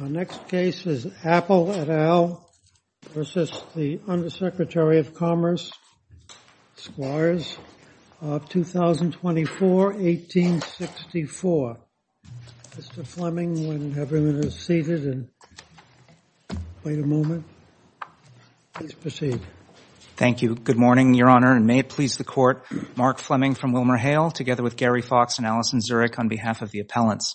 Our next case is Apple et al. v. the Undersecretary of Commerce, Squires, of 2024-1864. Mr. Fleming, when everyone is seated and wait a moment, please proceed. Thank you. Good morning, Your Honor, and may it please the Court, Mark Fleming from WilmerHale, together with Gary Fox and Allison Zurich, on behalf of the appellants.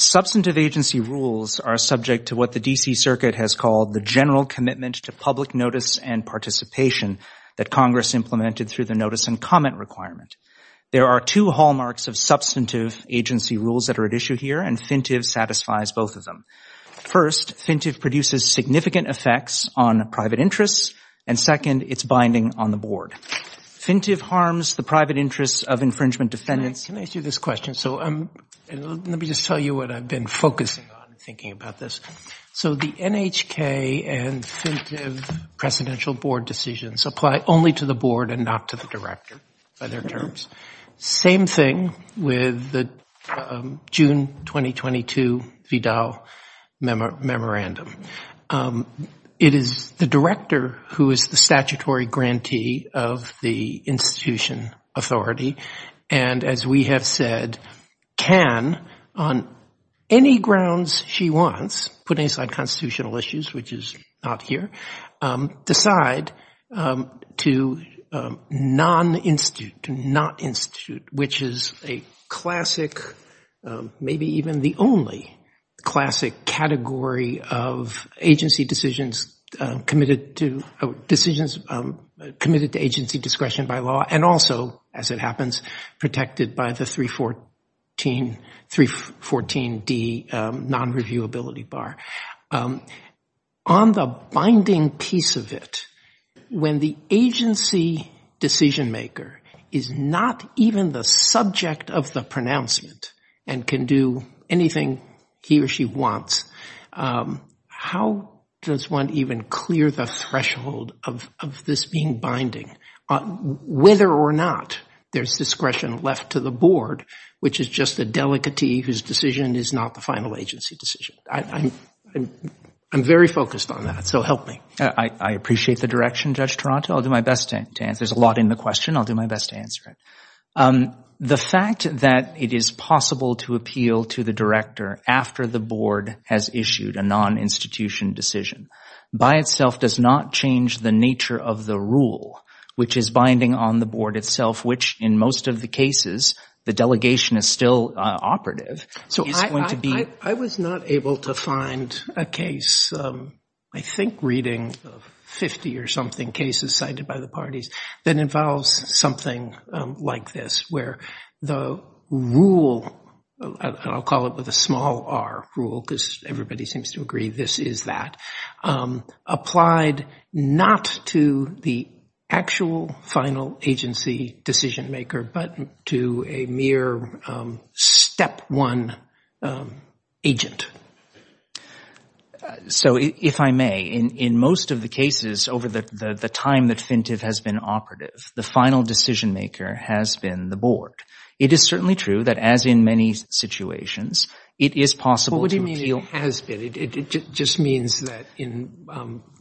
Substantive agency rules are subject to what the D.C. Circuit has called the General Commitment to Public Notice and Participation that Congress implemented through the Notice and Comment Requirement. There are two hallmarks of substantive agency rules that are at issue here, and FINTIV satisfies both of them. First, FINTIV produces significant effects on private interests, and second, it's binding on the board. FINTIV harms the private interests of infringement defendants. Can I ask you this question? So let me just tell you what I've been focusing on and thinking about this. So the NHK and FINTIV presidential board decisions apply only to the board and not to the director by their terms. Same thing with the June 2022 Vidal memorandum. It is the director who is the statutory grantee of the institution authority, and as we have said, can on any grounds she wants, putting aside constitutional issues, which is not here, decide to non-institute, to not-institute, which is a classic, maybe even the only classic category of agency decisions committed to agency discretion by law, and also, as it happens, protected by the 314D non-reviewability bar. On the binding piece of it, when the agency decision-maker is not even the subject of the pronouncement and can do anything he or she wants, how does one even clear the threshold of this being binding? Whether or not there's discretion left to the board, which is just a delicatee whose decision is not the final agency decision. I'm very focused on that, so help me. I appreciate the direction, Judge Taranto. I'll do my best to answer. There's a lot in the question. I'll do my best to answer it. The fact that it is possible to appeal to the director after the board has issued a non-institution decision by itself does not change the nature of the rule, which is binding on the board itself, which, in most of the cases, the delegation is still operative. So I was not able to find a case, I think reading 50 or something cases cited by the parties, that involves something like this, where the rule, and I'll call it with a small r, rule, because everybody seems to agree this is that, applied not to the actual final agency decision-maker, but to a mere step one agent. So if I may, in most of the cases over the time that FINTV has been operative, the final decision-maker has been the board. It is certainly true that, as in many situations, it is possible to appeal— It has been. It just means that in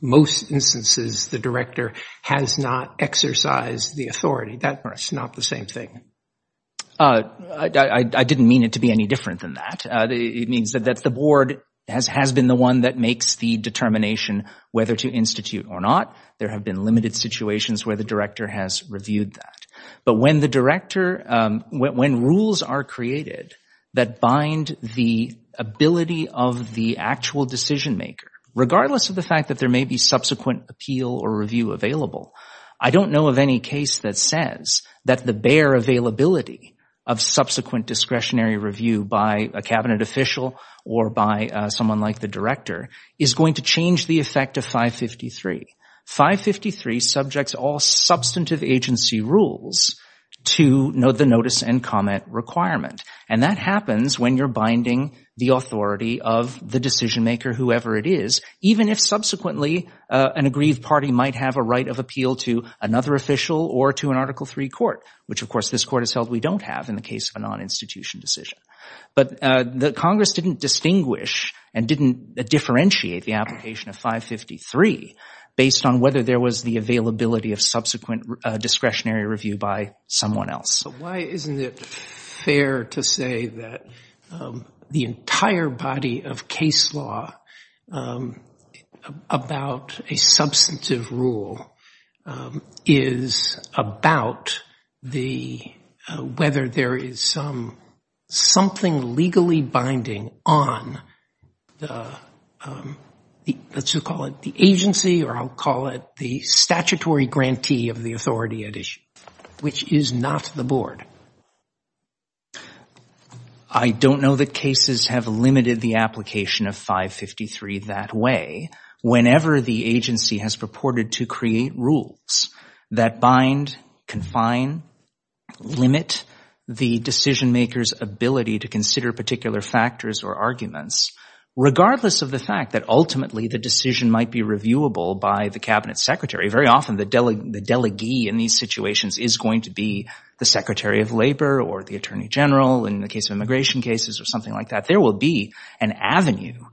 most instances the director has not exercised the authority. That's not the same thing. I didn't mean it to be any different than that. It means that the board has been the one that makes the determination whether to institute or not. There have been limited situations where the director has reviewed that. But when the director—when rules are created that bind the ability of the actual decision-maker, regardless of the fact that there may be subsequent appeal or review available, I don't know of any case that says that the bare availability of subsequent discretionary review by a cabinet official or by someone like the director is going to change the effect of 553. 553 subjects all substantive agency rules to the notice and comment requirement. And that happens when you're binding the authority of the decision-maker, whoever it is, even if subsequently an aggrieved party might have a right of appeal to another official or to an Article III court, which, of course, this court has held we don't have in the case of a non-institution decision. But Congress didn't distinguish and didn't differentiate the application of 553 based on whether there was the availability of subsequent discretionary review by someone else. So why isn't it fair to say that the entire body of case law about a substantive rule is about whether there is something legally binding on the—let's just call it the agency or I'll call it the statutory grantee of the authority at issue, which is not the board? I don't know that cases have limited the application of 553 that way. Whenever the agency has purported to create rules that bind, confine, limit the decision-maker's ability to consider particular factors or arguments, regardless of the fact that ultimately the decision might be reviewable by the cabinet secretary, very often the delegee in these situations is going to be the secretary of labor or the attorney general in the case of immigration cases or something like that. There will be an avenue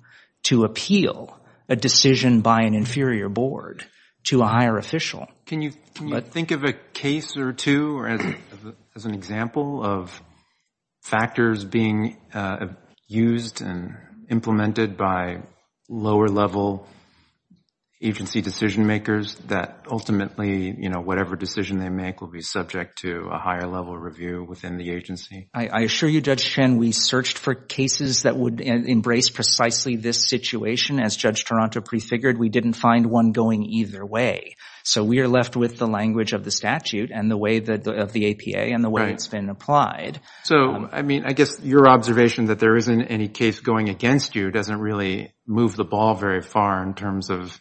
to appeal a decision by an inferior board to a higher official. Can you think of a case or two as an example of factors being used and implemented by lower-level agency decision-makers that ultimately, you know, whatever decision they make will be subject to a higher-level review within the agency? I assure you, Judge Shen, we searched for cases that would embrace precisely this situation. As Judge Toronto prefigured, we didn't find one going either way. So we are left with the language of the statute and the way of the APA and the way it's been applied. So, I mean, I guess your observation that there isn't any case going against you doesn't really move the ball very far in terms of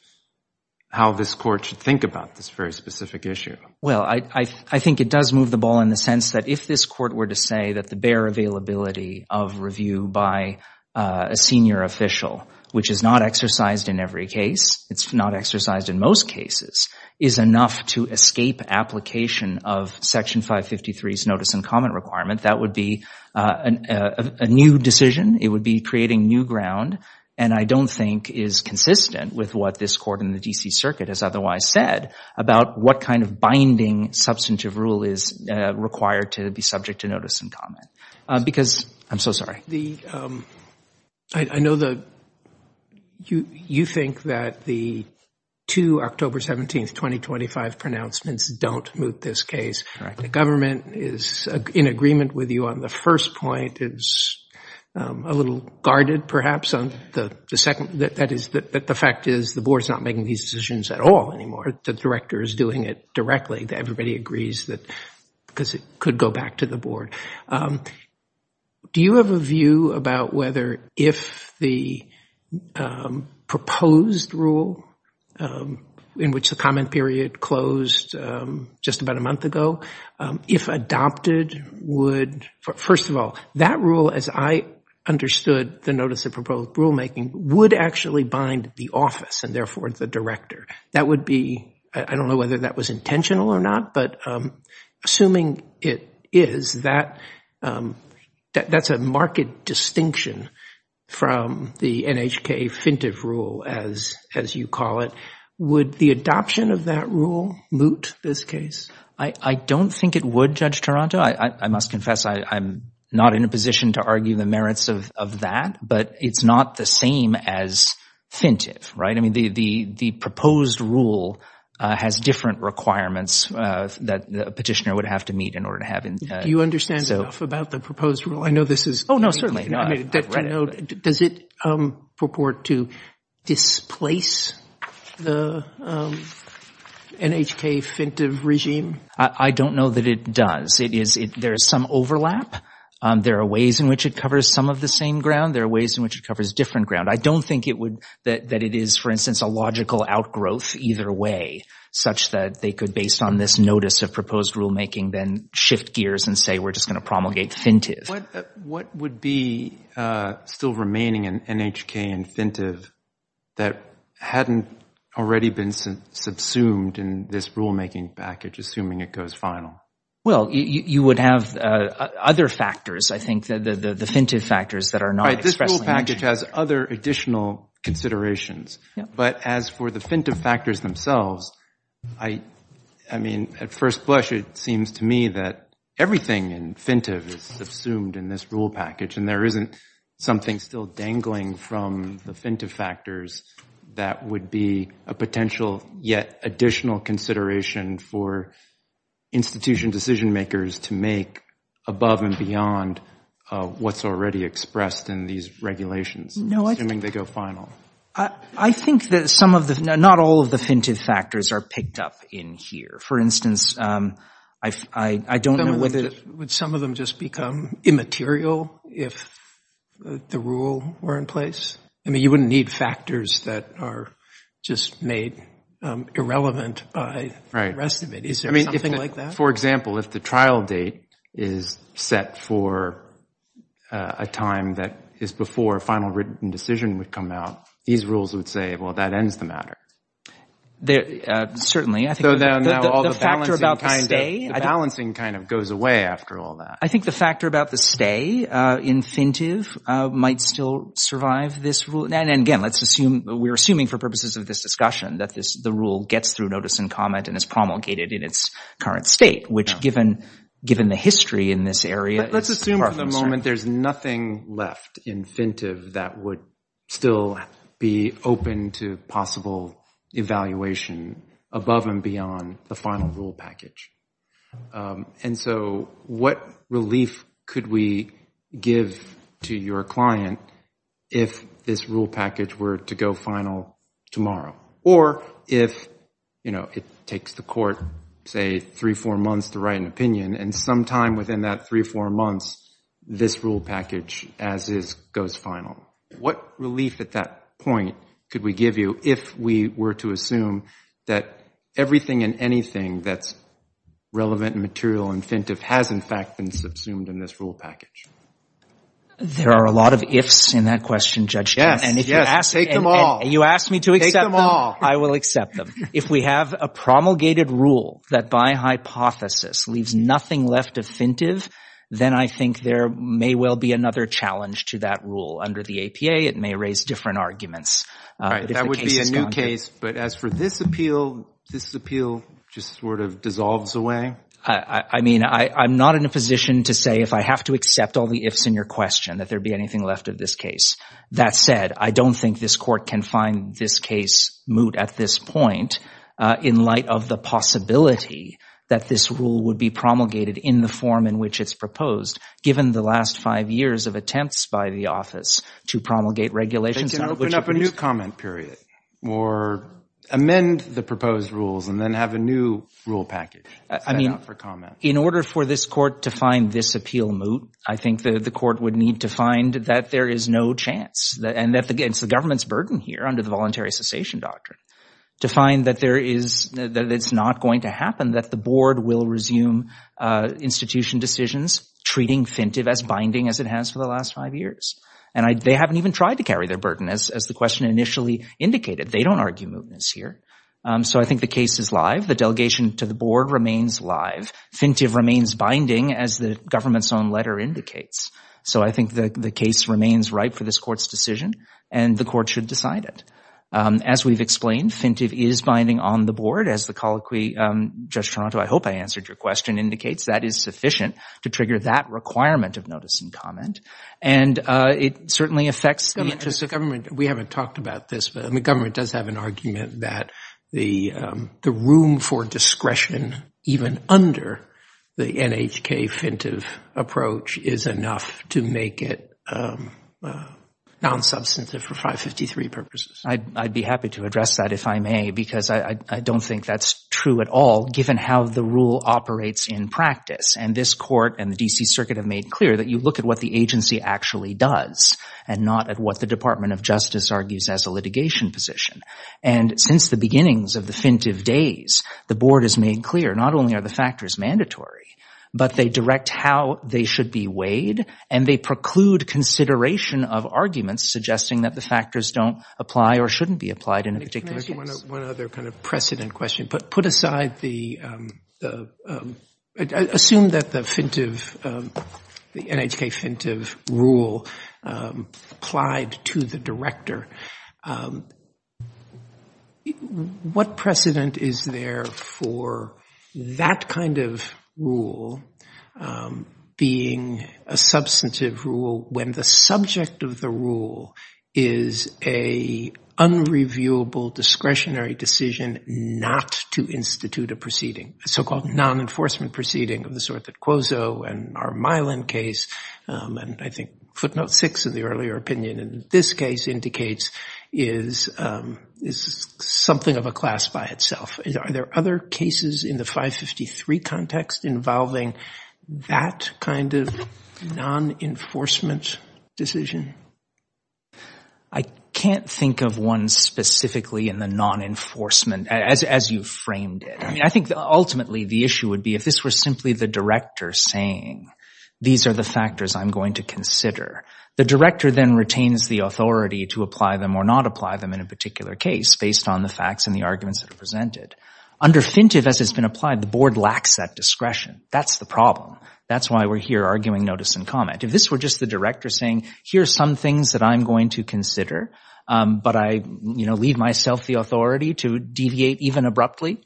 how this court should think about this very specific issue. Well, I think it does move the ball in the sense that if this court were to say that the bare availability of review by a senior official, which is not exercised in every case, it's not exercised in most cases, is enough to escape application of Section 553's notice and comment requirement, that would be a new decision, it would be creating new ground, and I don't think is consistent with what this court in the D.C. Circuit has otherwise said about what kind of binding substantive rule is required to be subject to notice and comment. Because, I'm so sorry. I know that you think that the two October 17th, 2025 pronouncements don't move this case. The government is in agreement with you on the first point, is a little guarded perhaps on the second. That is, the fact is the board is not making these decisions at all anymore. The director is doing it directly. Everybody agrees that because it could go back to the board. Do you have a view about whether if the proposed rule in which the comment period closed just about a month ago, if adopted would, first of all, that rule as I understood the notice of proposed rulemaking, would actually bind the office and therefore the director. That would be, I don't know whether that was intentional or not, but assuming it is, that's a market distinction from the NHK Fintif rule as you call it. Would the adoption of that rule moot this case? I don't think it would, Judge Taranto. I must confess I'm not in a position to argue the merits of that, but it's not the same as Fintif. The proposed rule has different requirements that a petitioner would have to meet in order to have— Do you understand enough about the proposed rule? I know this is— Oh, no, certainly not. Does it purport to displace the NHK Fintif regime? I don't know that it does. There is some overlap. There are ways in which it covers some of the same ground. There are ways in which it covers different ground. I don't think that it is, for instance, a logical outgrowth either way, such that they could, based on this notice of proposed rulemaking, then shift gears and say we're just going to promulgate Fintif. What would be still remaining in NHK and Fintif that hadn't already been subsumed in this rulemaking package, assuming it goes final? Well, you would have other factors, I think, the Fintif factors that are not expressly mentioned. The rule package has other additional considerations. But as for the Fintif factors themselves, I mean, at first blush, it seems to me that everything in Fintif is subsumed in this rule package, and there isn't something still dangling from the Fintif factors that would be a potential yet additional consideration for institution decision makers to make above and beyond what's already expressed in these regulations, assuming they go final. I think that not all of the Fintif factors are picked up in here. For instance, I don't know whether... Would some of them just become immaterial if the rule were in place? I mean, you wouldn't need factors that are just made irrelevant by the rest of it. Right. Is there something like that? For example, if the trial date is set for a time that is before a final written decision would come out, these rules would say, well, that ends the matter. Certainly. So now all the balancing kind of goes away after all that. I think the factor about the stay in Fintif might still survive this rule. And again, let's assume, we're assuming for purposes of this discussion, that the rule gets through notice and comment and is promulgated in its current state, which given the history in this area... Let's assume for the moment there's nothing left in Fintif that would still be open to possible evaluation above and beyond the final rule package. And so what relief could we give to your client if this rule package were to go final tomorrow? Or if, you know, it takes the court, say, three, four months to write an opinion, and sometime within that three, four months, this rule package as is goes final. What relief at that point could we give you if we were to assume that everything and anything that's relevant and material in Fintif has in fact been subsumed in this rule package? There are a lot of ifs in that question, Judge. Yes. Yes. Take them all. You asked me to accept them. I will accept them. If we have a promulgated rule that by hypothesis leaves nothing left of Fintif, then I think there may well be another challenge to that rule. Under the APA, it may raise different arguments. That would be a new case. But as for this appeal, this appeal just sort of dissolves away. I mean, I'm not in a position to say if I have to accept all the ifs in your question, that there be anything left of this case. That said, I don't think this court can find this case moot at this point in light of the possibility that this rule would be promulgated in the form in which it's proposed, given the last five years of attempts by the office to promulgate regulations. They can open up a new comment period or amend the proposed rules and then have a new rule package. I mean, in order for this court to find this appeal moot, I think that the court would need to find that there is no chance. And it's the government's burden here under the voluntary cessation doctrine to find that it's not going to happen, that the board will resume institution decisions, treating Fintif as binding as it has for the last five years. And they haven't even tried to carry their burden, as the question initially indicated. They don't argue mootness here. So I think the case is live. The delegation to the board remains live. Fintif remains binding, as the government's own letter indicates. So I think the case remains ripe for this court's decision, and the court should decide it. As we've explained, Fintif is binding on the board, as the colloquy, Judge Toronto, I hope I answered your question, indicates. That is sufficient to trigger that requirement of notice and comment. And it certainly affects the interest of government. We haven't talked about this, but the government does have an argument that the room for discretion, even under the NHK-Fintif approach, is enough to make it non-substantive for 553 purposes. I'd be happy to address that, if I may, because I don't think that's true at all, given how the rule operates in practice. And this court and the D.C. Circuit have made clear that you look at what the agency actually does, and not at what the Department of Justice argues as a litigation position. And since the beginnings of the Fintif days, the board has made clear, not only are the factors mandatory, but they direct how they should be weighed, and they preclude consideration of arguments suggesting that the factors don't apply or shouldn't be applied in a particular case. Can I ask you one other kind of precedent question? Assume that the NHK-Fintif rule applied to the director. What precedent is there for that kind of rule being a substantive rule, when the subject of the rule is an unreviewable discretionary decision not to institute a proceeding? A so-called non-enforcement proceeding of the sort that Cuozzo and our Milan case, and I think footnote six in the earlier opinion in this case, indicates is something of a class by itself. Are there other cases in the 553 context involving that kind of non-enforcement decision? I can't think of one specifically in the non-enforcement as you framed it. I mean, I think ultimately the issue would be if this were simply the director saying, these are the factors I'm going to consider. The director then retains the authority to apply them or not apply them in a particular case based on the facts and the arguments that are presented. Under Fintif, as has been applied, the board lacks that discretion. That's the problem. That's why we're here arguing notice and comment. If this were just the director saying, here are some things that I'm going to consider, but I leave myself the authority to deviate even abruptly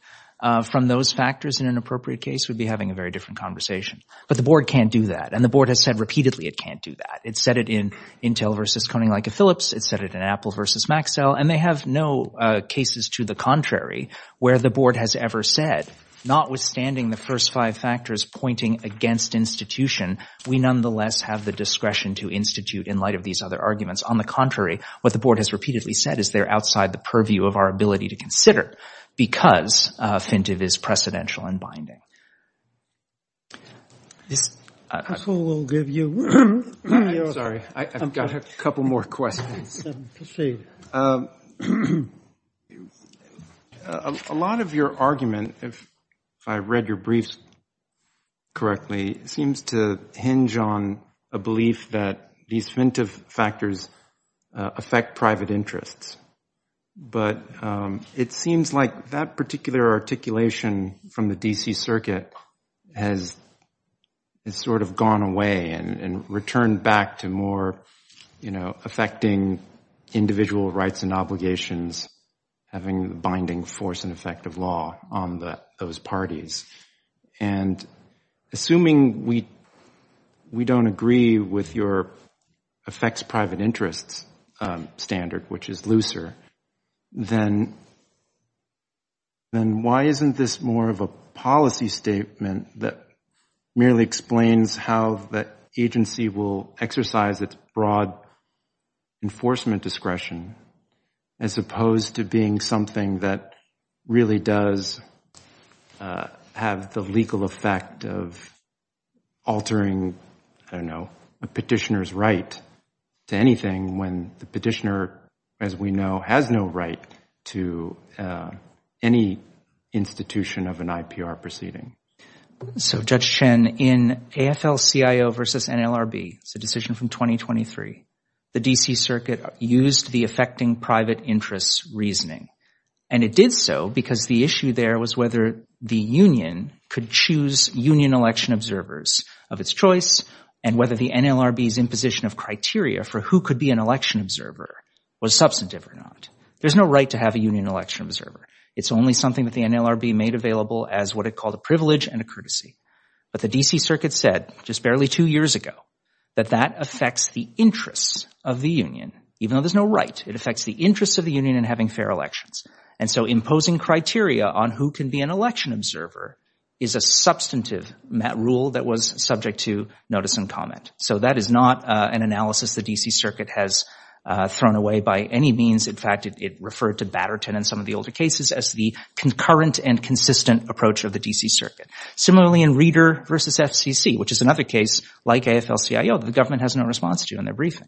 from those factors in an appropriate case, we'd be having a very different conversation. But the board can't do that. And the board has said repeatedly it can't do that. It said it in Intel versus Coning like a Phillips. It said it in Apple versus Maxell. And they have no cases to the contrary where the board has ever said, notwithstanding the first five factors pointing against institution, we nonetheless have the discretion to institute in light of these other arguments. On the contrary, what the board has repeatedly said is they're outside the purview of our ability to consider because Fintif is precedential and binding. This will give you. I'm sorry. I've got a couple more questions. A lot of your argument, if I read your briefs correctly, seems to hinge on a belief that these Fintif factors affect private interests. But it seems like that particular articulation from the D.C. circuit has sort of gone away and returned back to more affecting individual rights and obligations, having the binding force and effect of law on those parties. And assuming we don't agree with your affects private interests standard, which is looser, then why isn't this more of a policy statement that merely explains how the agency will exercise its broad enforcement discretion as opposed to being something that really does have the legal effect of altering, I don't know, a petitioner's right to anything when the petitioner, as we know, has no right to any institution of an IPR proceeding? So Judge Chen, in AFL-CIO versus NLRB, it's a decision from 2023, the D.C. circuit used the affecting private interests reasoning. And it did so because the issue there was whether the union could choose union election observers of its choice and whether the NLRB's imposition of criteria for who could be an election observer was substantive or not. There's no right to have a union election observer. It's only something that the NLRB made available as what it called a privilege and a courtesy. But the D.C. circuit said just barely two years ago that that affects the interests of the union, even though there's no right. It affects the interests of the union in having fair elections. And so imposing criteria on who can be an election observer is a substantive rule that was subject to notice and comment. So that is not an analysis the D.C. circuit has thrown away by any means. In fact, it referred to Batterton and some of the older cases as the concurrent and consistent approach of the D.C. circuit. Similarly, in Reader v. FCC, which is another case like AFL-CIO that the government has no response to in their briefing.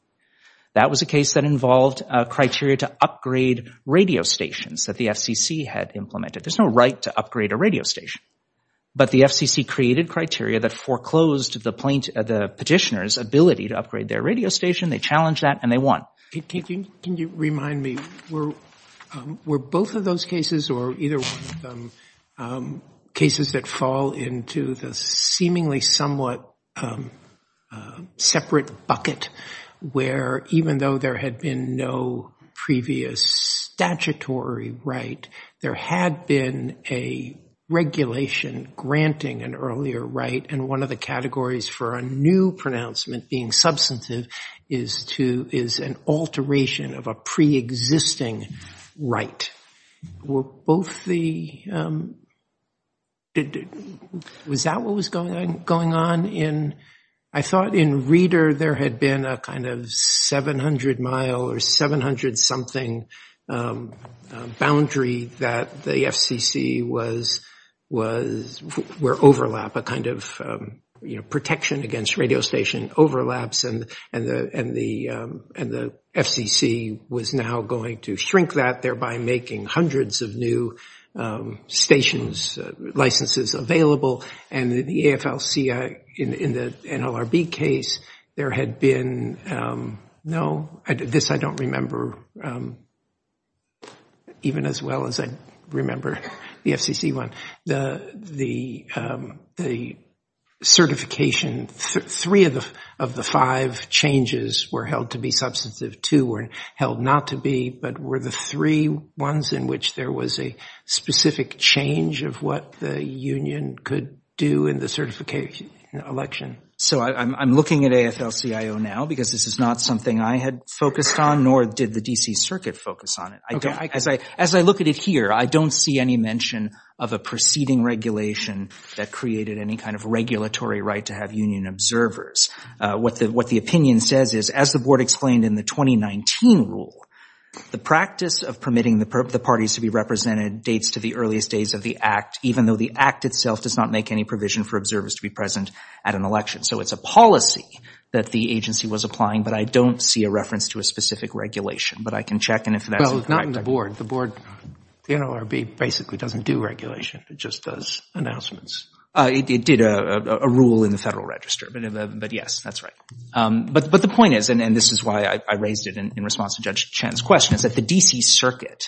That was a case that involved criteria to upgrade radio stations that the FCC had implemented. There's no right to upgrade a radio station. But the FCC created criteria that foreclosed the petitioner's ability to upgrade their radio station. They challenged that, and they won. Can you remind me, were both of those cases, or either one of them, cases that fall into the seemingly somewhat separate bucket, where even though there had been no previous statutory right, there had been a regulation granting an earlier right, and one of the categories for a new pronouncement being substantive is an alternative alteration of a preexisting right. Was that what was going on? I thought in Reader there had been a kind of 700-mile or 700-something boundary that the FCC was, where overlap, a kind of protection against radio station overlaps, and the FCC was now going to shrink that, thereby making hundreds of new stations, licenses available. And in the AFL-CIO, in the NLRB case, there had been, no, this I don't remember even as well as I remember the FCC one. The certification, three of the five, changes were held to be substantive, two were held not to be, but were the three ones in which there was a specific change of what the union could do in the certification election. So I'm looking at AFL-CIO now, because this is not something I had focused on, nor did the D.C. Circuit focus on it. As I look at it here, I don't see any mention of a preceding regulation that created any kind of regulatory right to have union observers. What the opinion says is, as the Board explained in the 2019 rule, the practice of permitting the parties to be represented dates to the earliest days of the Act, even though the Act itself does not make any provision for the reference to a specific regulation. But I can check and if that's correct. The NLRB basically doesn't do regulation, it just does announcements. It did a rule in the Federal Register, but yes, that's right. But the point is, and this is why I raised it in response to Judge Chen's question, is that the D.C. Circuit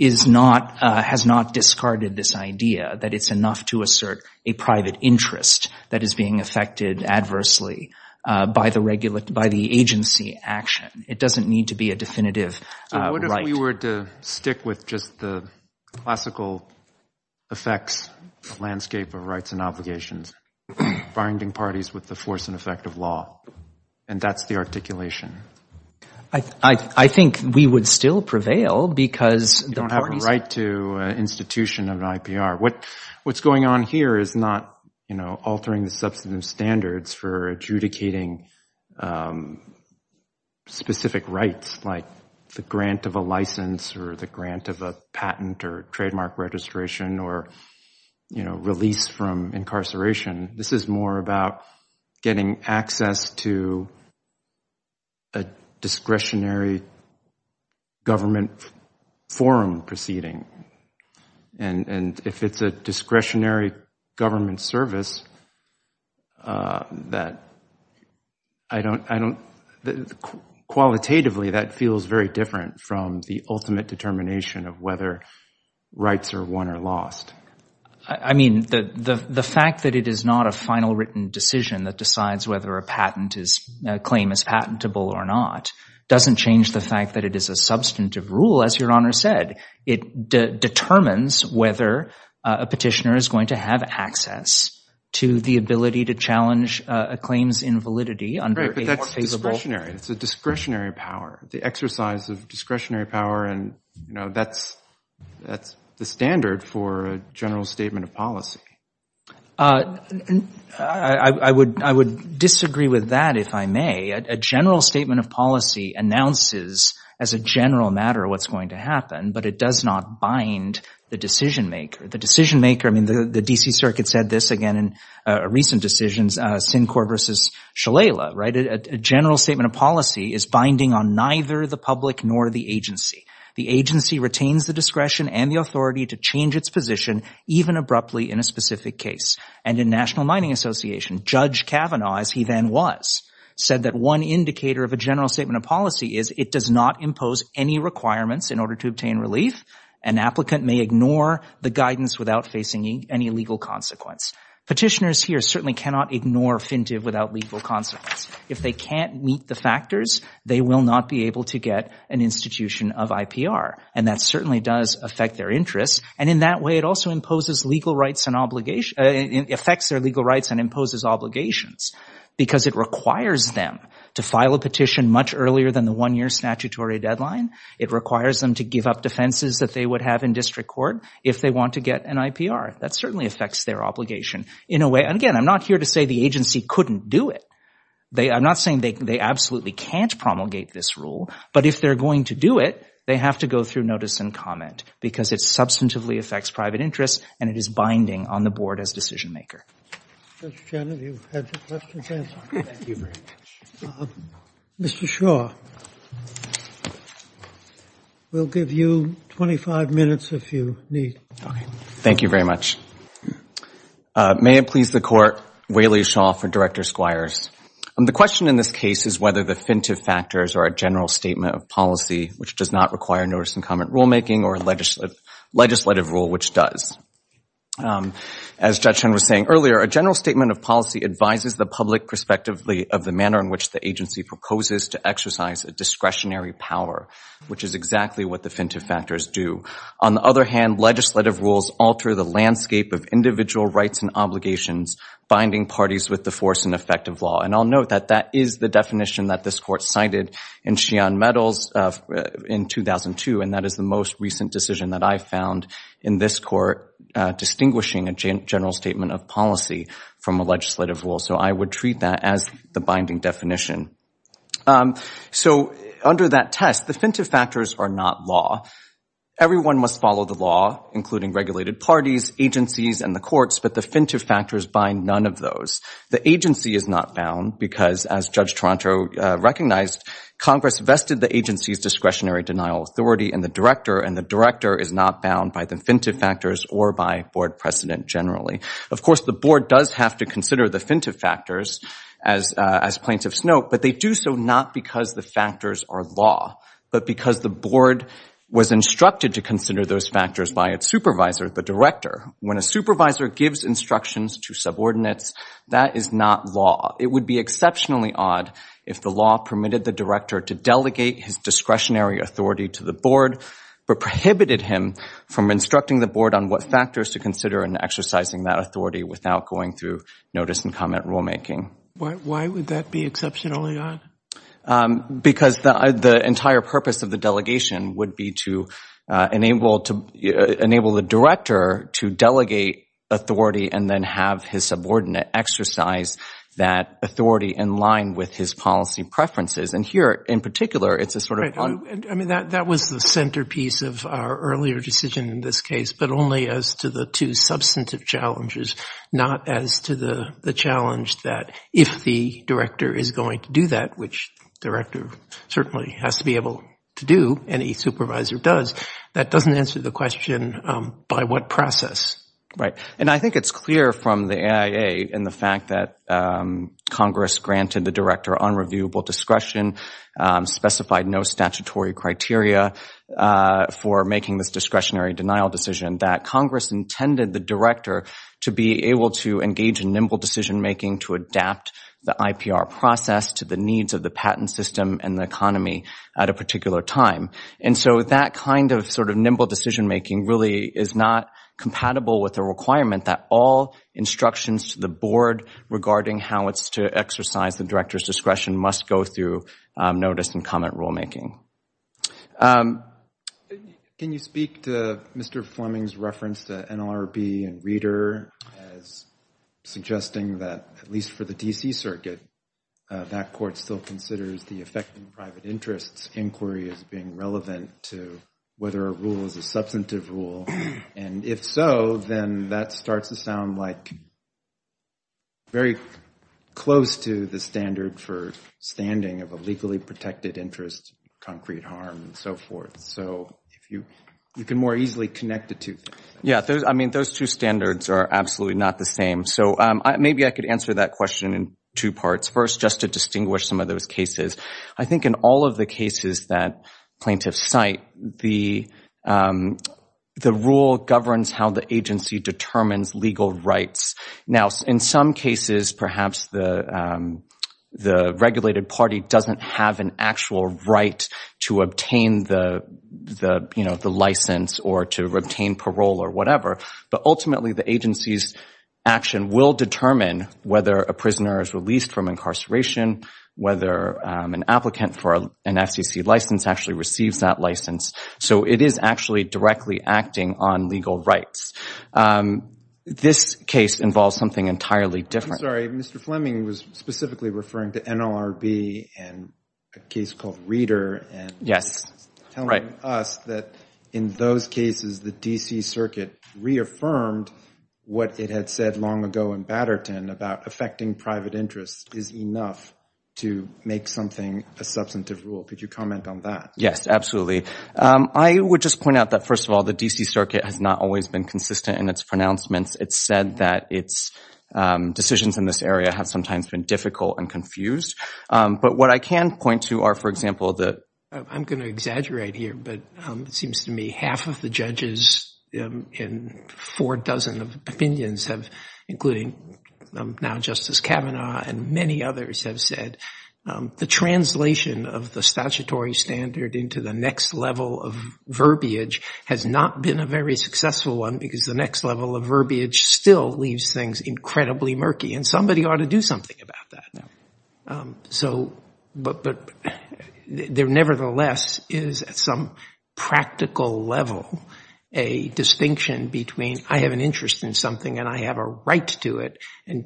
has not discarded this idea that it's enough to assert a regulation that is being affected adversely by the agency action. It doesn't need to be a definitive right. What if we were to stick with just the classical effects, the landscape of rights and obligations, binding parties with the force and effect of law, and that's the articulation? I think we would still prevail because... You don't have a right to an institution of an IPR. What's going on here is not altering the substantive standards for adjudicating specific rights, like the grant of a license or the grant of a patent or trademark registration or release from incarceration. This is more about getting access to a discretionary government forum proceeding. And if it's a discretionary government service, qualitatively that feels very different from the ultimate determination of whether rights are won or lost. The fact that it is not a final written decision that decides whether a claim is patentable or not doesn't change the fact that it is a substantive rule, as Your Honor said. It determines whether a petitioner is going to have access to the ability to challenge a claim's invalidity. It's a discretionary power, the exercise of discretionary power. And that's the standard for a general statement of policy. I would disagree with that, if I may. A general statement of policy announces as a general matter what's going to happen, but it does not bind the decision-maker. The decision-maker, I mean, the D.C. Circuit said this again in recent decisions, Syncor versus Shalala, right? A general statement of policy is binding on neither the public nor the agency. The agency retains the discretion and the authority to change its position, even abruptly in a specific case. And in National Mining Association, Judge Kavanaugh, as he then was, said that one indicator of a general statement of policy is it does not impose any requirements in order to obtain relief. An applicant may ignore the guidance without facing any legal consequence. Petitioners here certainly cannot ignore fintive without legal consequence. If they can't meet the factors, they will not be able to get an institution of IPR. And that certainly does affect their interests. And in that way, it also imposes legal rights and obligations, affects their legal rights and imposes obligations. Because it requires them to file a petition much earlier than the one-year statutory deadline. It requires them to give up defenses that they would have in district court if they want to get an IPR. That certainly affects their obligation in a way. And again, I'm not here to say the agency couldn't do it. I'm not saying they absolutely can't promulgate this rule. But if they're going to do it, they have to go through notice and comment because it substantively affects private interests and it is binding on the board as decision-maker. Judge Shannon, you've had your questions answered. Mr. Shaw. We'll give you 25 minutes if you need. Thank you very much. May it please the Court. Waley Shaw for Director Squires. The question in this case is whether the fintive factors are a general statement of policy, which does not require notice and comment rulemaking, or legislative rule, which does. As Judge Chen was saying earlier, a general statement of policy advises the public prospectively of the manner in which the agency proposes to exercise a discretionary power, which is exactly what the fintive factors do. On the other hand, legislative rules alter the landscape of individual rights and obligations, binding parties with the force and effect of law. And I'll note that that is the definition that this Court cited in Sheehan Meadows in 2002, and that is the most recent decision that I found in this Court distinguishing a general statement of policy from a legislative rule. So I would treat that as the binding definition. So under that test, the fintive factors are not law. Everyone must follow the law, including regulated parties, agencies, and the courts, but the fintive factors bind none of those. The agency is not bound because, as Judge Toronto recognized, Congress vested the agency's discretionary denial authority in the director, and the director is not bound by the fintive factors or by board precedent generally. Of course, the board does have to consider the fintive factors, as plaintiffs note, but they do so not because the factors are law, but because the board was instructed to consider those factors by its supervisor, the director. When a supervisor gives instructions to subordinates, that is not law. It would be exceptionally odd if the law permitted the director to delegate his discretionary authority to the board, but prohibited him from instructing the board on what factors to consider in exercising that authority without going through notice and comment rulemaking. Why would that be exceptionally odd? Because the entire purpose of the delegation would be to enable the director to delegate authority and then have his subordinate exercise that authority in line with his policy preferences. And here, in particular, it's a sort of odd. I mean, that was the centerpiece of our earlier decision in this case, but only as to the two substantive challenges, not as to the challenge that if the director is going to do that, which the director certainly has to be able to do, any supervisor does, that doesn't answer the question by what process. Right. And I think it's clear from the AIA in the fact that Congress granted the director unreviewable discretion, specified no statutory criteria for making this discretionary denial decision, that Congress intended the director to be able to engage in nimble decision making to adapt the IPR process to the needs of the patent system and the economy at a particular time. And so that kind of sort of nimble decision making really is not compatible with the requirement that all instructions to the board regarding how it's to exercise the director's discretion must go through notice and comment rulemaking. Can you speak to Mr. Fleming's reference to NLRB and Reader as suggesting that, at least for the D.C. Circuit, that court still considers the effect on private interests inquiry as being relevant to whether a rule is a substantive rule? And if so, then that starts to sound like very close to the standard for standing of a legally protected interest, concrete harm, and so forth. So you can more easily connect the two things. Yeah. I mean, those two standards are absolutely not the same. So maybe I could answer that question in two parts. First, just to distinguish some of those cases, I think in all of the cases that plaintiffs cite, the rule governs how the agency determines legal rights. Now, in some cases, perhaps the regulated party doesn't have an actual right to obtain the license or to obtain parole or whatever. But ultimately, the agency's action will determine whether a prisoner is released from incarceration, whether an applicant for an FCC license actually receives that license. So it is actually directly acting on legal rights. This case involves something entirely different. Mr. Fleming was specifically referring to NLRB and a case called Reader. Yes. Telling us that in those cases the D.C. Circuit reaffirmed what it had said long ago in Batterton about affecting private interests is enough to make something a substantive rule. Could you comment on that? Yes, absolutely. I would just point out that, first of all, the D.C. Circuit has not always been consistent in its pronouncements. It's said that its decisions in this area have sometimes been difficult and But what I can point to are, for example, the I'm going to exaggerate here, but it seems to me half of the judges in four dozen of opinions have, including now Justice Kavanaugh and many others, have said the translation of the statutory standard into the next level of verbiage has not been a very successful one because the next level of verbiage still leaves things incredibly murky. And somebody ought to do something about that. But there nevertheless is, at some practical level, a distinction between I have an interest in something and I have a right to it. And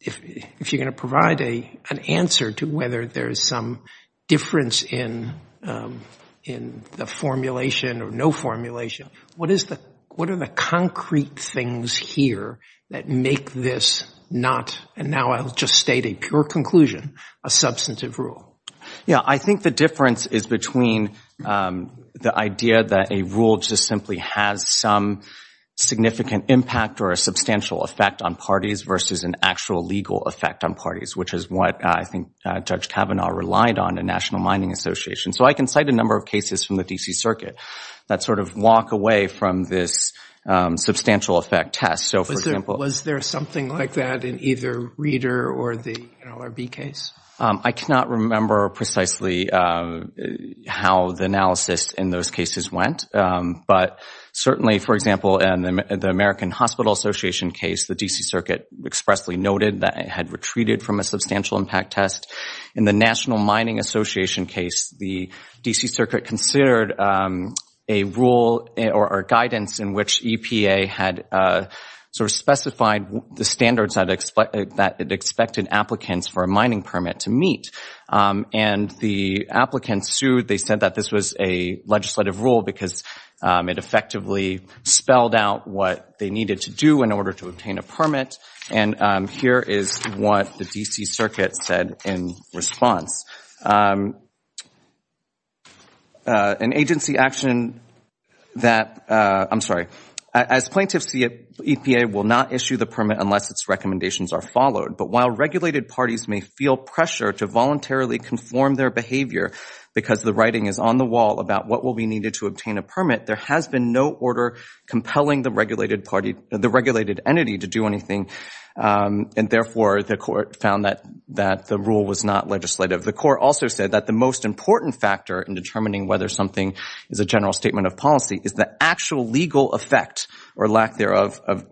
if you're going to provide an answer to whether there is some difference in the formulation or no formulation, what are the concrete things here that make this not, and now I'll just state a pure conclusion, a substantive rule? Yeah. I think the difference is between the idea that a rule just simply has some significant impact or a substantial effect on parties versus an actual legal effect on parties, which is what I think Judge Kavanaugh relied on in National Mining Association. So I can cite a number of cases from the D.C. Circuit that sort of walk away from this substantial effect test. Was there something like that in either Reeder or the NLRB case? I cannot remember precisely how the analysis in those cases went, but certainly, for example, in the American Hospital Association case, the D.C. Circuit expressly noted that it had retreated from a substantial impact test. In the National Mining Association case, the D.C. Circuit sort of specified the standards that it expected applicants for a mining permit to meet, and the applicants sued. They said that this was a legislative rule because it effectively spelled out what they needed to do in order to obtain a permit, and here is what the D.C. Circuit said in response. An agency action that – I'm sorry. As plaintiffs, the EPA will not issue the permit unless its recommendations are followed, but while regulated parties may feel pressure to voluntarily conform their behavior because the writing is on the wall about what will be needed to obtain a permit, there has been no order compelling the regulated entity to do anything, and therefore, the court found that the rule was not legislative. The court also said that the most important factor in determining whether something is a general statement of policy is the actual legal effect or lack thereof of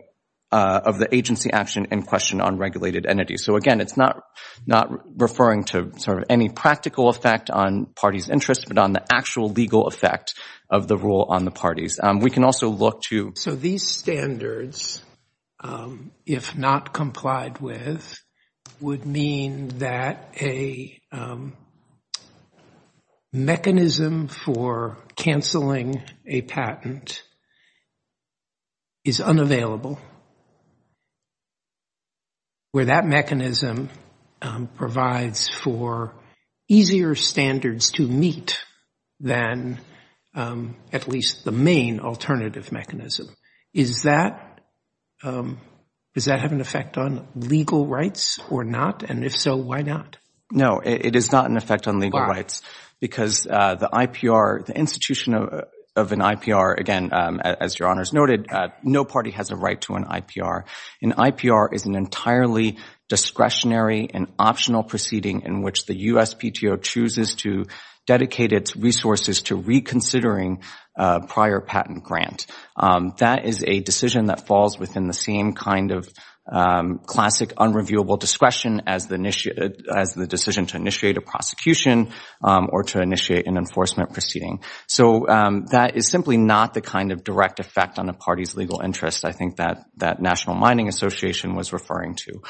the agency action in question on regulated entities. So again, it's not referring to sort of any practical effect on parties' interests, but on the actual legal effect of the rule on the parties. We can also look to – So these standards, if not complied with, would mean that a particular mechanism for canceling a patent is unavailable, where that mechanism provides for easier standards to meet than at least the main alternative mechanism. Is that – does that have an effect on legal rights or not? And if so, why not? No, it is not an effect on legal rights because the IPR – the institution of an IPR – again, as Your Honors noted, no party has a right to an IPR. An IPR is an entirely discretionary and optional proceeding in which the USPTO chooses to dedicate its resources to reconsidering a prior patent grant. That is a decision that falls within the same kind of classic unreviewable discretion as the decision to initiate a prosecution or to initiate an enforcement proceeding. So that is simply not the kind of direct effect on a party's legal interest I think that National Mining Association was referring to.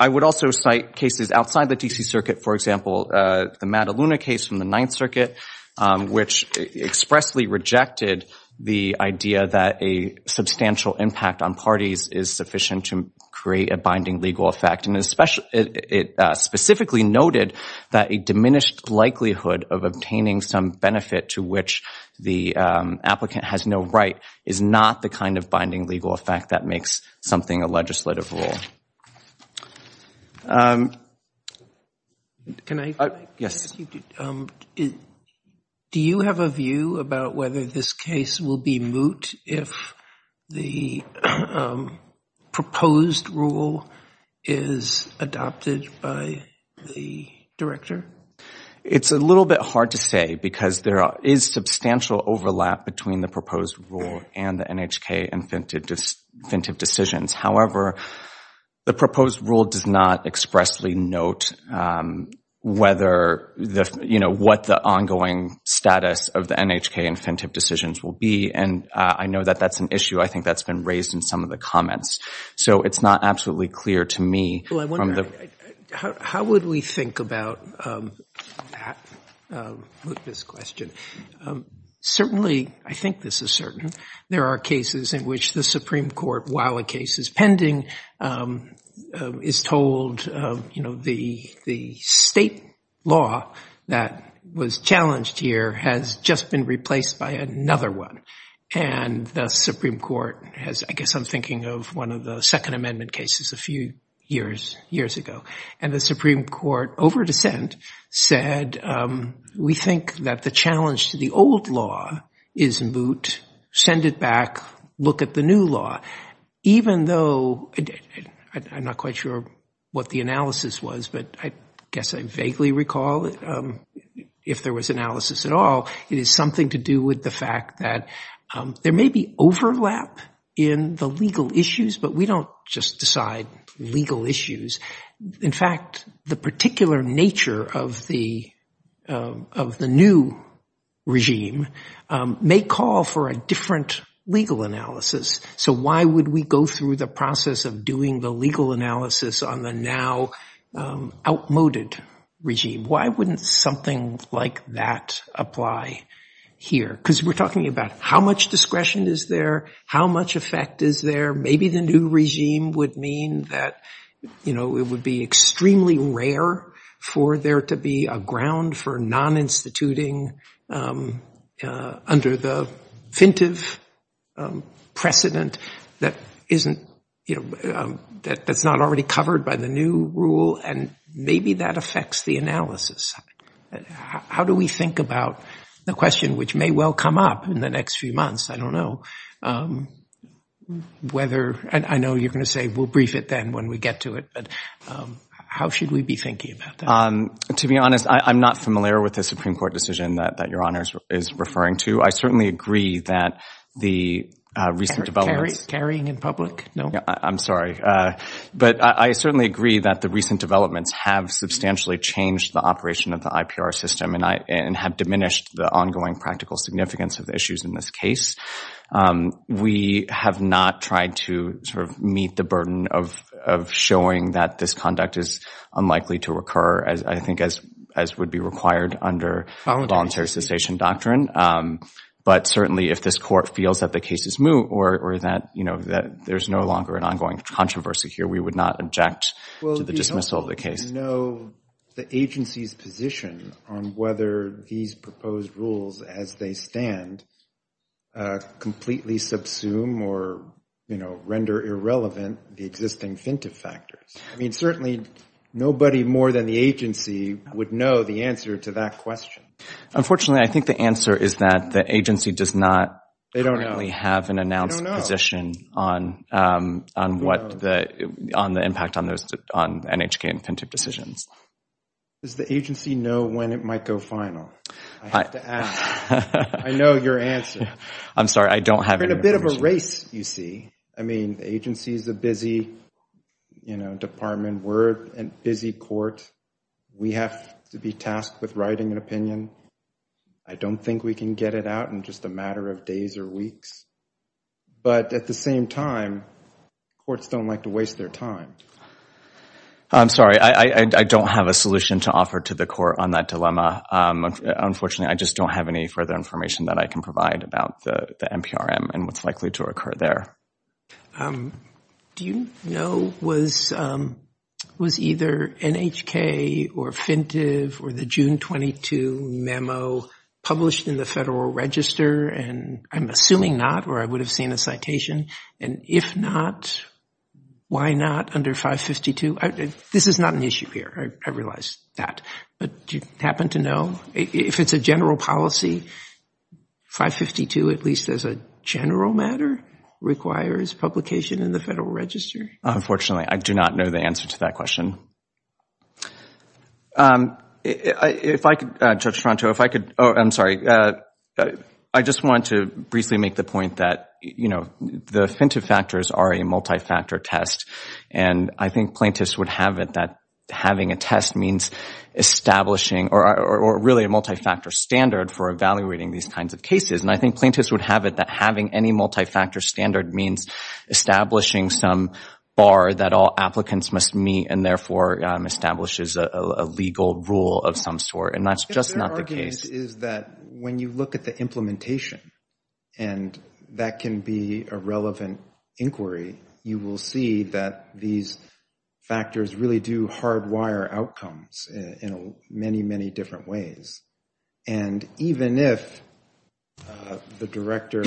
I would also cite cases outside the D.C. Circuit, for example, the Mataluna case from the Ninth Circuit, which expressly rejected the idea that a substantial impact on parties is a binding legal effect. And it specifically noted that a diminished likelihood of obtaining some benefit to which the applicant has no right is not the kind of binding legal effect that makes something a legislative rule. Can I – Yes. Do you have a view about whether this case will be moot if the proposed rule is adopted by the director? It's a little bit hard to say because there is substantial overlap between the proposed rule and the NHK infinitive decisions. However, the proposed rule does not expressly note whether the – you know, what the ongoing status of the NHK infinitive decisions will be, and I know that that's an issue. I think that's been raised in some of the comments. So it's not absolutely clear to me from the – Well, I wonder, how would we think about that, with this question? Certainly, I think this is certain, there are cases in which the Supreme Court, while a case is pending, is told, you know, the state law that was challenged here has just been replaced by another one. And the Supreme Court has – I guess I'm thinking of one of the Second Amendment cases a few years ago. And the Supreme Court, over dissent, said we think that the challenge to the old law is moot, send it back, look at the new law. Even though – I'm not quite sure what the analysis was, but I guess I vaguely recall if there was analysis at all. It is something to do with the fact that there may be overlap in the legal issues, but we don't just decide legal issues. In fact, the particular nature of the new regime may call for a different legal analysis. So why would we go through the process of doing the legal analysis on the now outmoded regime? Why wouldn't something like that apply here? Because we're talking about how much discretion is there, how much effect is there. Maybe the new regime would mean that it would be extremely rare for there to be a ground for non-instituting under the fintive precedent that isn't – that's not already covered by the new rule. And maybe that affects the analysis. How do we think about the question which may well come up in the next few I don't know whether – and I know you're going to say we'll brief it then when we get to it. But how should we be thinking about that? To be honest, I'm not familiar with the Supreme Court decision that Your Honor is referring to. I certainly agree that the recent developments – And carrying in public? No? I'm sorry. But I certainly agree that the recent developments have substantially changed the operation of the IPR system and have diminished the ongoing practical significance of the issues in this case. We have not tried to sort of meet the burden of showing that this conduct is unlikely to occur as I think as would be required under voluntary cessation doctrine. But certainly if this court feels that the case is moot or that there's no longer an ongoing controversy here, we would not object to the dismissal of the case. Well, do you know the agency's position on whether these proposed rules as they stand completely subsume or render irrelevant the existing fintiff factors? I mean, certainly nobody more than the agency would know the answer to that question. Unfortunately, I think the answer is that the agency does not currently have an announced position on the impact on NHK and fintiff decisions. Does the agency know when it might go final? I have to ask. I know your answer. I'm sorry, I don't have any information. We're in a bit of a race, you see. I mean, the agency is a busy department. We're a busy court. We have to be tasked with writing an opinion. I don't think we can get it out in just a matter of days or weeks. But at the same time, courts don't like to waste their time. I'm sorry. I don't have a solution to offer to the court on that dilemma. Unfortunately, I just don't have any further information that I can provide about the NPRM and what's likely to occur there. Do you know was either NHK or fintiff or the June 22 new rule memo published in the Federal Register? And I'm assuming not, or I would have seen a citation. And if not, why not under 552? This is not an issue here, I realize that. But do you happen to know? If it's a general policy, 552, at least as a general matter, requires publication in the Federal Register. Unfortunately, I do not know the answer to that question. If I could, Judge Toronto, if I could, oh, I'm sorry. I just wanted to briefly make the point that, you know, the fintiff factors are a multi-factor test. And I think plaintiffs would have it that having a test means establishing or really a multi-factor standard for evaluating these kinds of cases. And I think plaintiffs would have it that having any multi-factor standard means establishing some bar that all applicants must meet and therefore establishes a legal rule of some sort. And that's just not the case. Their argument is that when you look at the implementation and that can be a relevant inquiry, you will see that these factors really do hardwire outcomes in many, many different ways. And even if the director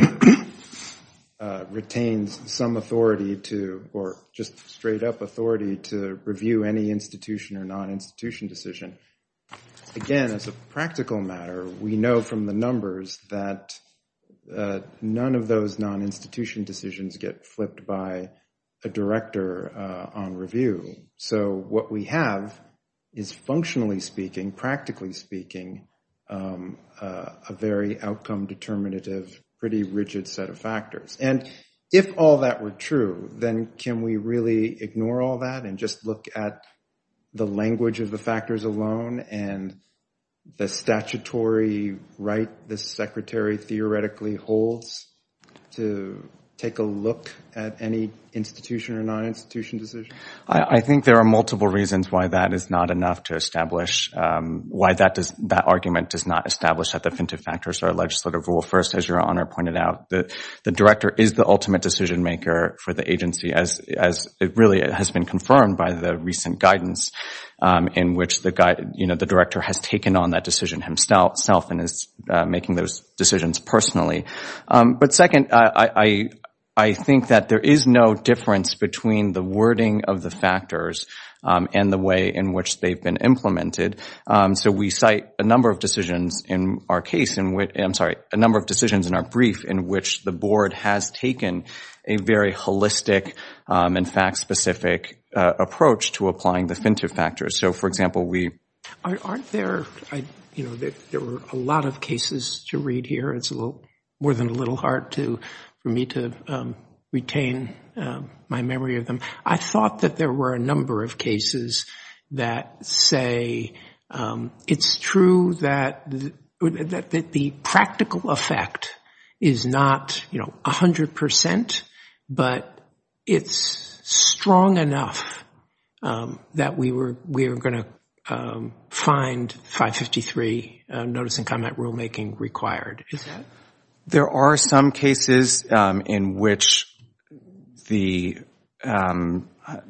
retains some authority to, or just straight-up authority to review any institution or non-institution decision, again, as a practical matter, we know from the numbers that none of those non-institution decisions get flipped by a director on review. So what we have is functionally speaking, practically speaking, a very outcome determinative, pretty rigid set of factors. And if all that were true, then can we really ignore all that and just look at the language of the factors alone and the statutory right the secretary theoretically holds to take a look at any institution or non-institution decision? I think there are multiple reasons why that is not enough to establish, why that argument does not establish that definitive factors are a legislative rule. First, as your Honor pointed out, the director is the ultimate decision maker for the agency as really has been confirmed by the recent guidance in which the director has taken on that decision himself and is making those decisions personally. But second, I think that there is no difference between the wording of the factors and the way in which they've been implemented. So we cite a number of decisions in our case, I'm sorry, a number of decisions in our brief in which the board has taken a very holistic and fact-specific approach to applying definitive factors. So, for example, we... Aren't there, you know, there were a lot of cases to read here. It's more than a little hard for me to retain my memory of them. I thought that there were a number of cases that say it's true that the practical effect is not, you know, 100%, but it's strong enough that we were going to find 553 notice and comment rulemaking required. There are some cases in which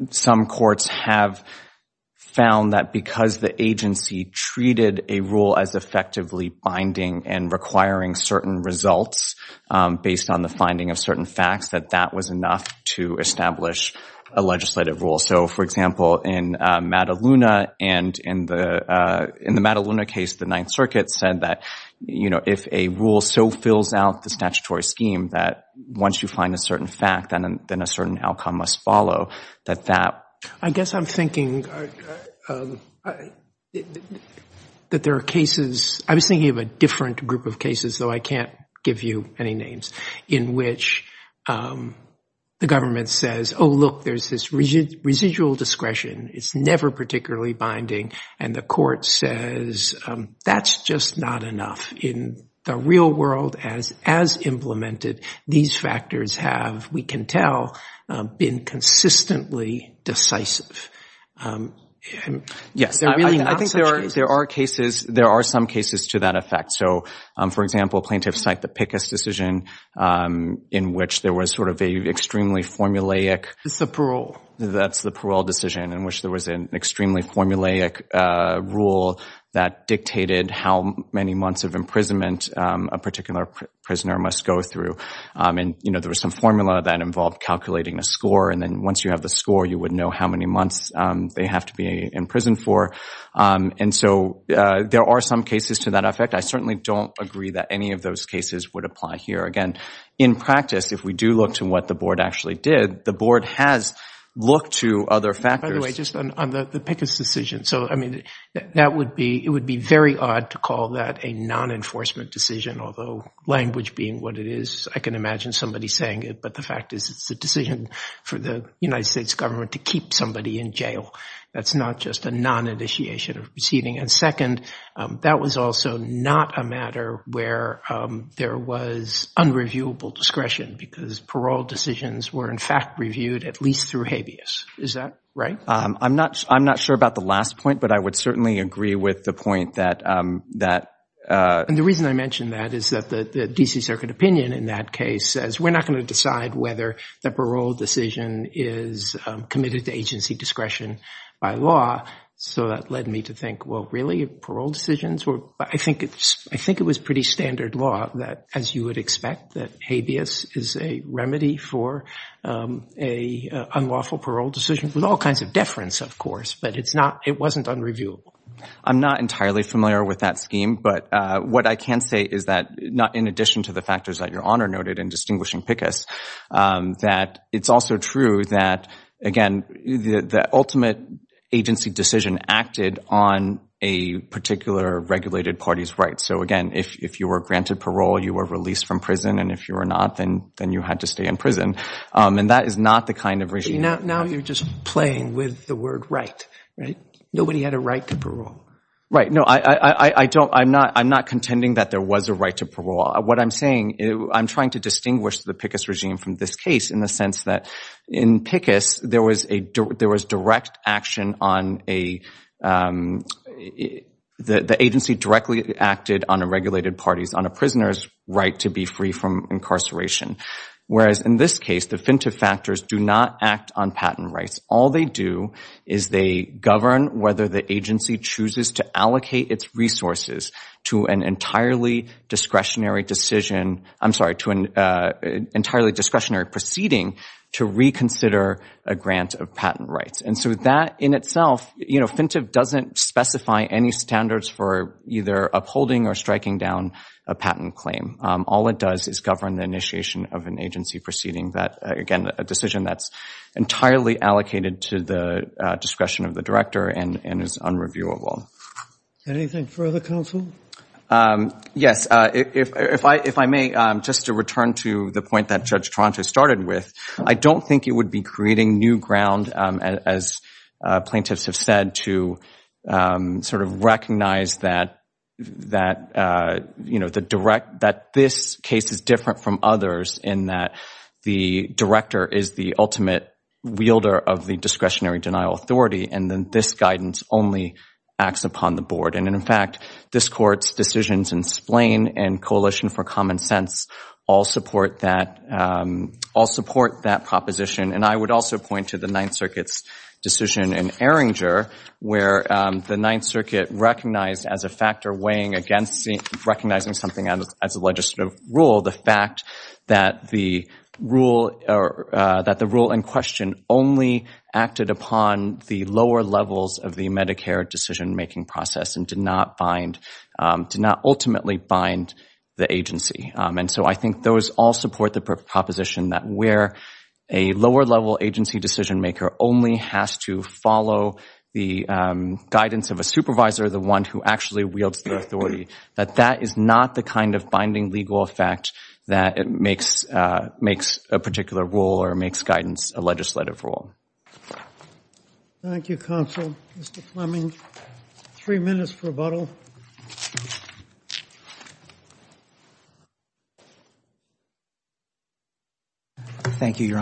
some courts have found that because the agency treated a rule as effectively binding and requiring certain results based on the finding of certain facts, that that was enough to establish a legislative rule. So, for example, in the Mataluna case, the Ninth Circuit said that, you know, if a rule so fills out the statutory scheme that once you find a certain fact, then a certain outcome must follow, that that... I guess I'm thinking that there are cases... I was thinking of a different group of cases, though I can't give you any names, in which the government says, oh, look, there's this residual discretion, it's never particularly binding, and the court says that's just not enough. In the real world, as implemented, these factors have, we can tell, been consistently decisive. Yes, I think there are some cases to that effect. So, for example, Plaintiff's site, the Pickus decision, in which there was sort of an extremely formulaic... It's the parole. That's the parole decision, in which there was an extremely formulaic rule that dictated how many months of imprisonment a particular prisoner must go through. And, you know, there was some formula that involved calculating a score, and then once you have the score, you would know how many months they have to be in prison for. And so there are some cases to that effect. I certainly don't agree that any of those cases would apply here. Again, in practice, if we do look to what the board actually did, the board has looked to other factors. By the way, just on the Pickus decision, so, I mean, that would be... It would be very odd to call that a non-enforcement decision, although language being what it is, I can imagine somebody saying it, but the fact is it's a decision for the United States government to keep somebody in jail. That's not just a non-initiation of proceeding. And second, that was also not a matter where there was unreviewable discretion, because parole decisions were, in fact, reviewed at least through habeas. Is that right? I'm not sure about the last point, but I would certainly agree with the point that... And the reason I mention that is that the D.C. Circuit opinion in that case says we're not going to decide whether the parole decision is committed to agency discretion by law. So that led me to think, well, really? Parole decisions were... I think it was pretty standard law that, as you would expect, that habeas is a remedy for an unlawful parole decision, with all kinds of deference, of course, but it wasn't unreviewable. I'm not entirely familiar with that scheme, but what I can say is that, in addition to the factors that Your Honor noted in distinguishing Pickus, that it's also true that, again, the ultimate agency decision acted on a particular regulated party's rights. So, again, if you were granted parole, you were released from prison, and if you were not, then you had to stay in prison. And that is not the kind of regime... Now you're just playing with the word right, right? Nobody had a right to parole. Right. No, I'm not contending that there was a right to parole. What I'm saying, I'm trying to distinguish the Pickus regime from this case in the sense that, in Pickus, there was direct action on a... The agency directly acted on a regulated party's, on a prisoner's right to be free from incarceration. Whereas, in this case, the FINTF factors do not act on patent rights. All they do is they govern whether the agency chooses to allocate its resources to an entirely discretionary decision... I'm sorry, to an entirely discretionary proceeding to reconsider a grant of patent rights. And so that in itself, you know, FINTF doesn't specify any standards for either upholding or striking down a patent claim. All it does is govern the initiation of an agency proceeding that, again, a decision that's entirely allocated to the discretion of the director and is unreviewable. Anything further, counsel? Yes. If I may, just to return to the point that Judge Toronto started with, I don't think it would be creating new ground, as plaintiffs have said, to sort of recognize that, you know, that this case is different from others in that the director is the ultimate wielder of the discretionary denial authority and that this guidance only acts upon the board. And, in fact, this Court's decisions in Splain and Coalition for Common Sense all support that proposition. And I would also point to the Ninth Circuit's decision in Erringer where the Ninth Circuit recognized as a factor weighing against recognizing something as a legislative rule the fact that the rule in question only acted upon the lower levels of the Medicare decision-making process and did not ultimately bind the agency. And so I think those all support the proposition that where a lower-level agency decision-maker only has to follow the guidance of a supervisor, the one who actually wields the authority, that that is not the kind of binding legal effect that makes a particular rule or makes guidance a legislative rule. Thank you, counsel. Mr. Fleming, three minutes for rebuttal. Thank you, Your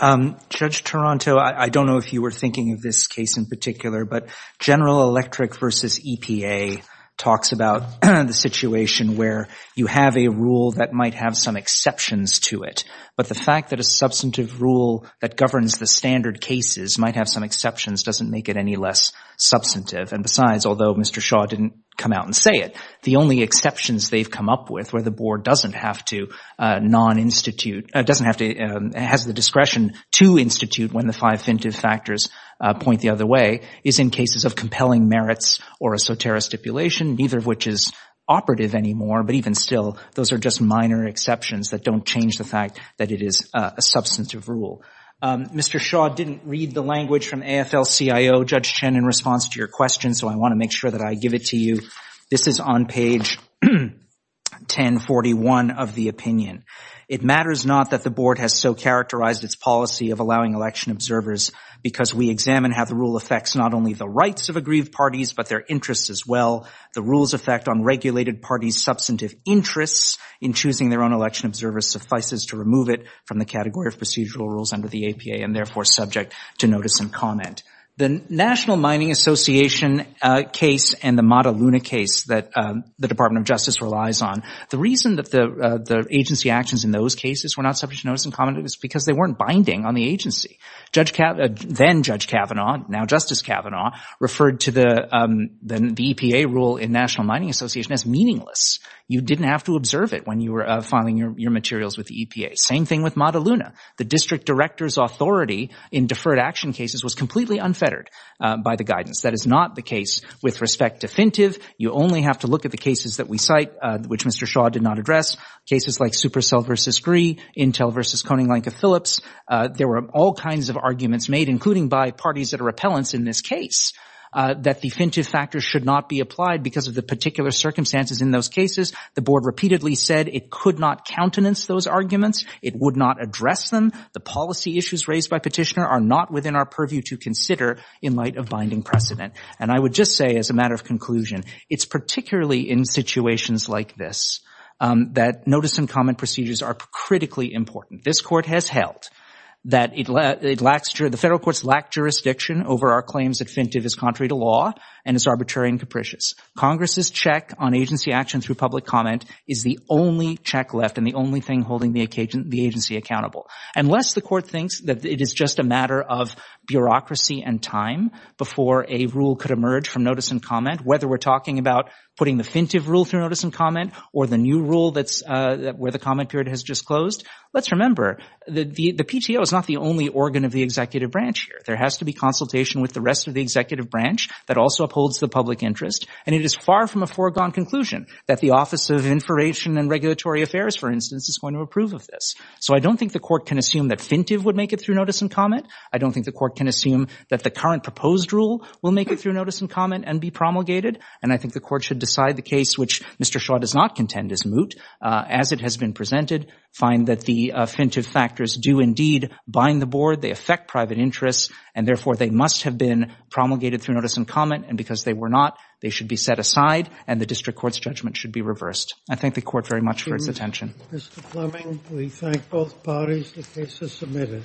Honor. Judge Taranto, I don't know if you were thinking of this case in particular, but General Electric v. EPA talks about the situation where you have a rule that might have some exceptions to it, but the fact that a substantive rule that governs the standard cases might have some exceptions doesn't make it any less substantive. And besides, although Mr. Shaw didn't come out and say it, the only exceptions they've come up with where the board doesn't have to non-institute, doesn't have to, has the discretion to institute when the five fintive factors point the other way, is in cases of compelling merits or a soterra stipulation, neither of which is operative anymore. But even still, those are just minor exceptions that don't change the fact that it is a substantive rule. Mr. Shaw didn't read the language from AFL-CIO Judge Chen in response to your question, so I want to make sure that I give it to you. This is on page 1041 of the opinion. It matters not that the board has so characterized its policy of allowing election observers because we examine how the rule affects not only the rights of agreed parties, but their interests as well. The rule's effect on regulated parties' substantive interests in choosing their own election observers suffices to remove it from the category of procedural rules under the APA and therefore subject to notice and comment. The National Mining Association case and the Mataluna case that the Department of Justice relies on, the reason that the agency actions in those cases were not subject to notice and comment is because they weren't binding on the agency. Then-Judge Kavanaugh, now Justice Kavanaugh, referred to the EPA rule in National Mining Association as meaningless. You didn't have to observe it when you were filing your materials with the EPA. Same thing with Mataluna. The district director's authority in deferred action cases was completely unfettered by the guidance. That is not the case with respect to Fintive. You only have to look at the cases that we cite, which Mr. Shaw did not address, cases like Supercell v. Gree, Intel v. Koning-Lenka-Phillips. There were all kinds of arguments made, including by parties that are appellants in this case, that the Fintive factors should not be applied because of the particular circumstances in those cases. The board repeatedly said it could not countenance those arguments. It would not address them. The policy issues raised by Petitioner are not within our purview to consider in light of binding precedent. And I would just say as a matter of conclusion, it's particularly in situations like this that notice and comment procedures are critically important. This Court has held that the federal courts lack jurisdiction over our claims that Fintive is contrary to law and is arbitrary and capricious. Congress's check on agency action through public comment is the only check left and the only thing holding the agency accountable. Unless the Court thinks that it is just a matter of bureaucracy and time before a rule could emerge from notice and comment, whether we're talking about putting the Fintive rule through notice and comment or the new rule where the comment period has just closed, let's remember the PTO is not the only organ of the executive branch here. There has to be consultation with the rest of the executive branch that also upholds the public interest. And it is far from a foregone conclusion that the Office of Information and Regulatory Affairs, for instance, is going to approve of this. So I don't think the Court can assume that Fintive would make it through notice and comment. I don't think the Court can assume that the current proposed rule will make it through notice and comment and be promulgated. And I think the Court should decide the case, which Mr. Shaw does not contend is moot, as it has been presented, find that the Fintive factors do indeed bind the board, they affect private interests, and therefore they must have been promulgated through notice and comment. And because they were not, they should be set aside and the district court's judgment should be reversed. I thank the Court very much for its attention. Mr. Fleming, we thank both parties. The case is submitted.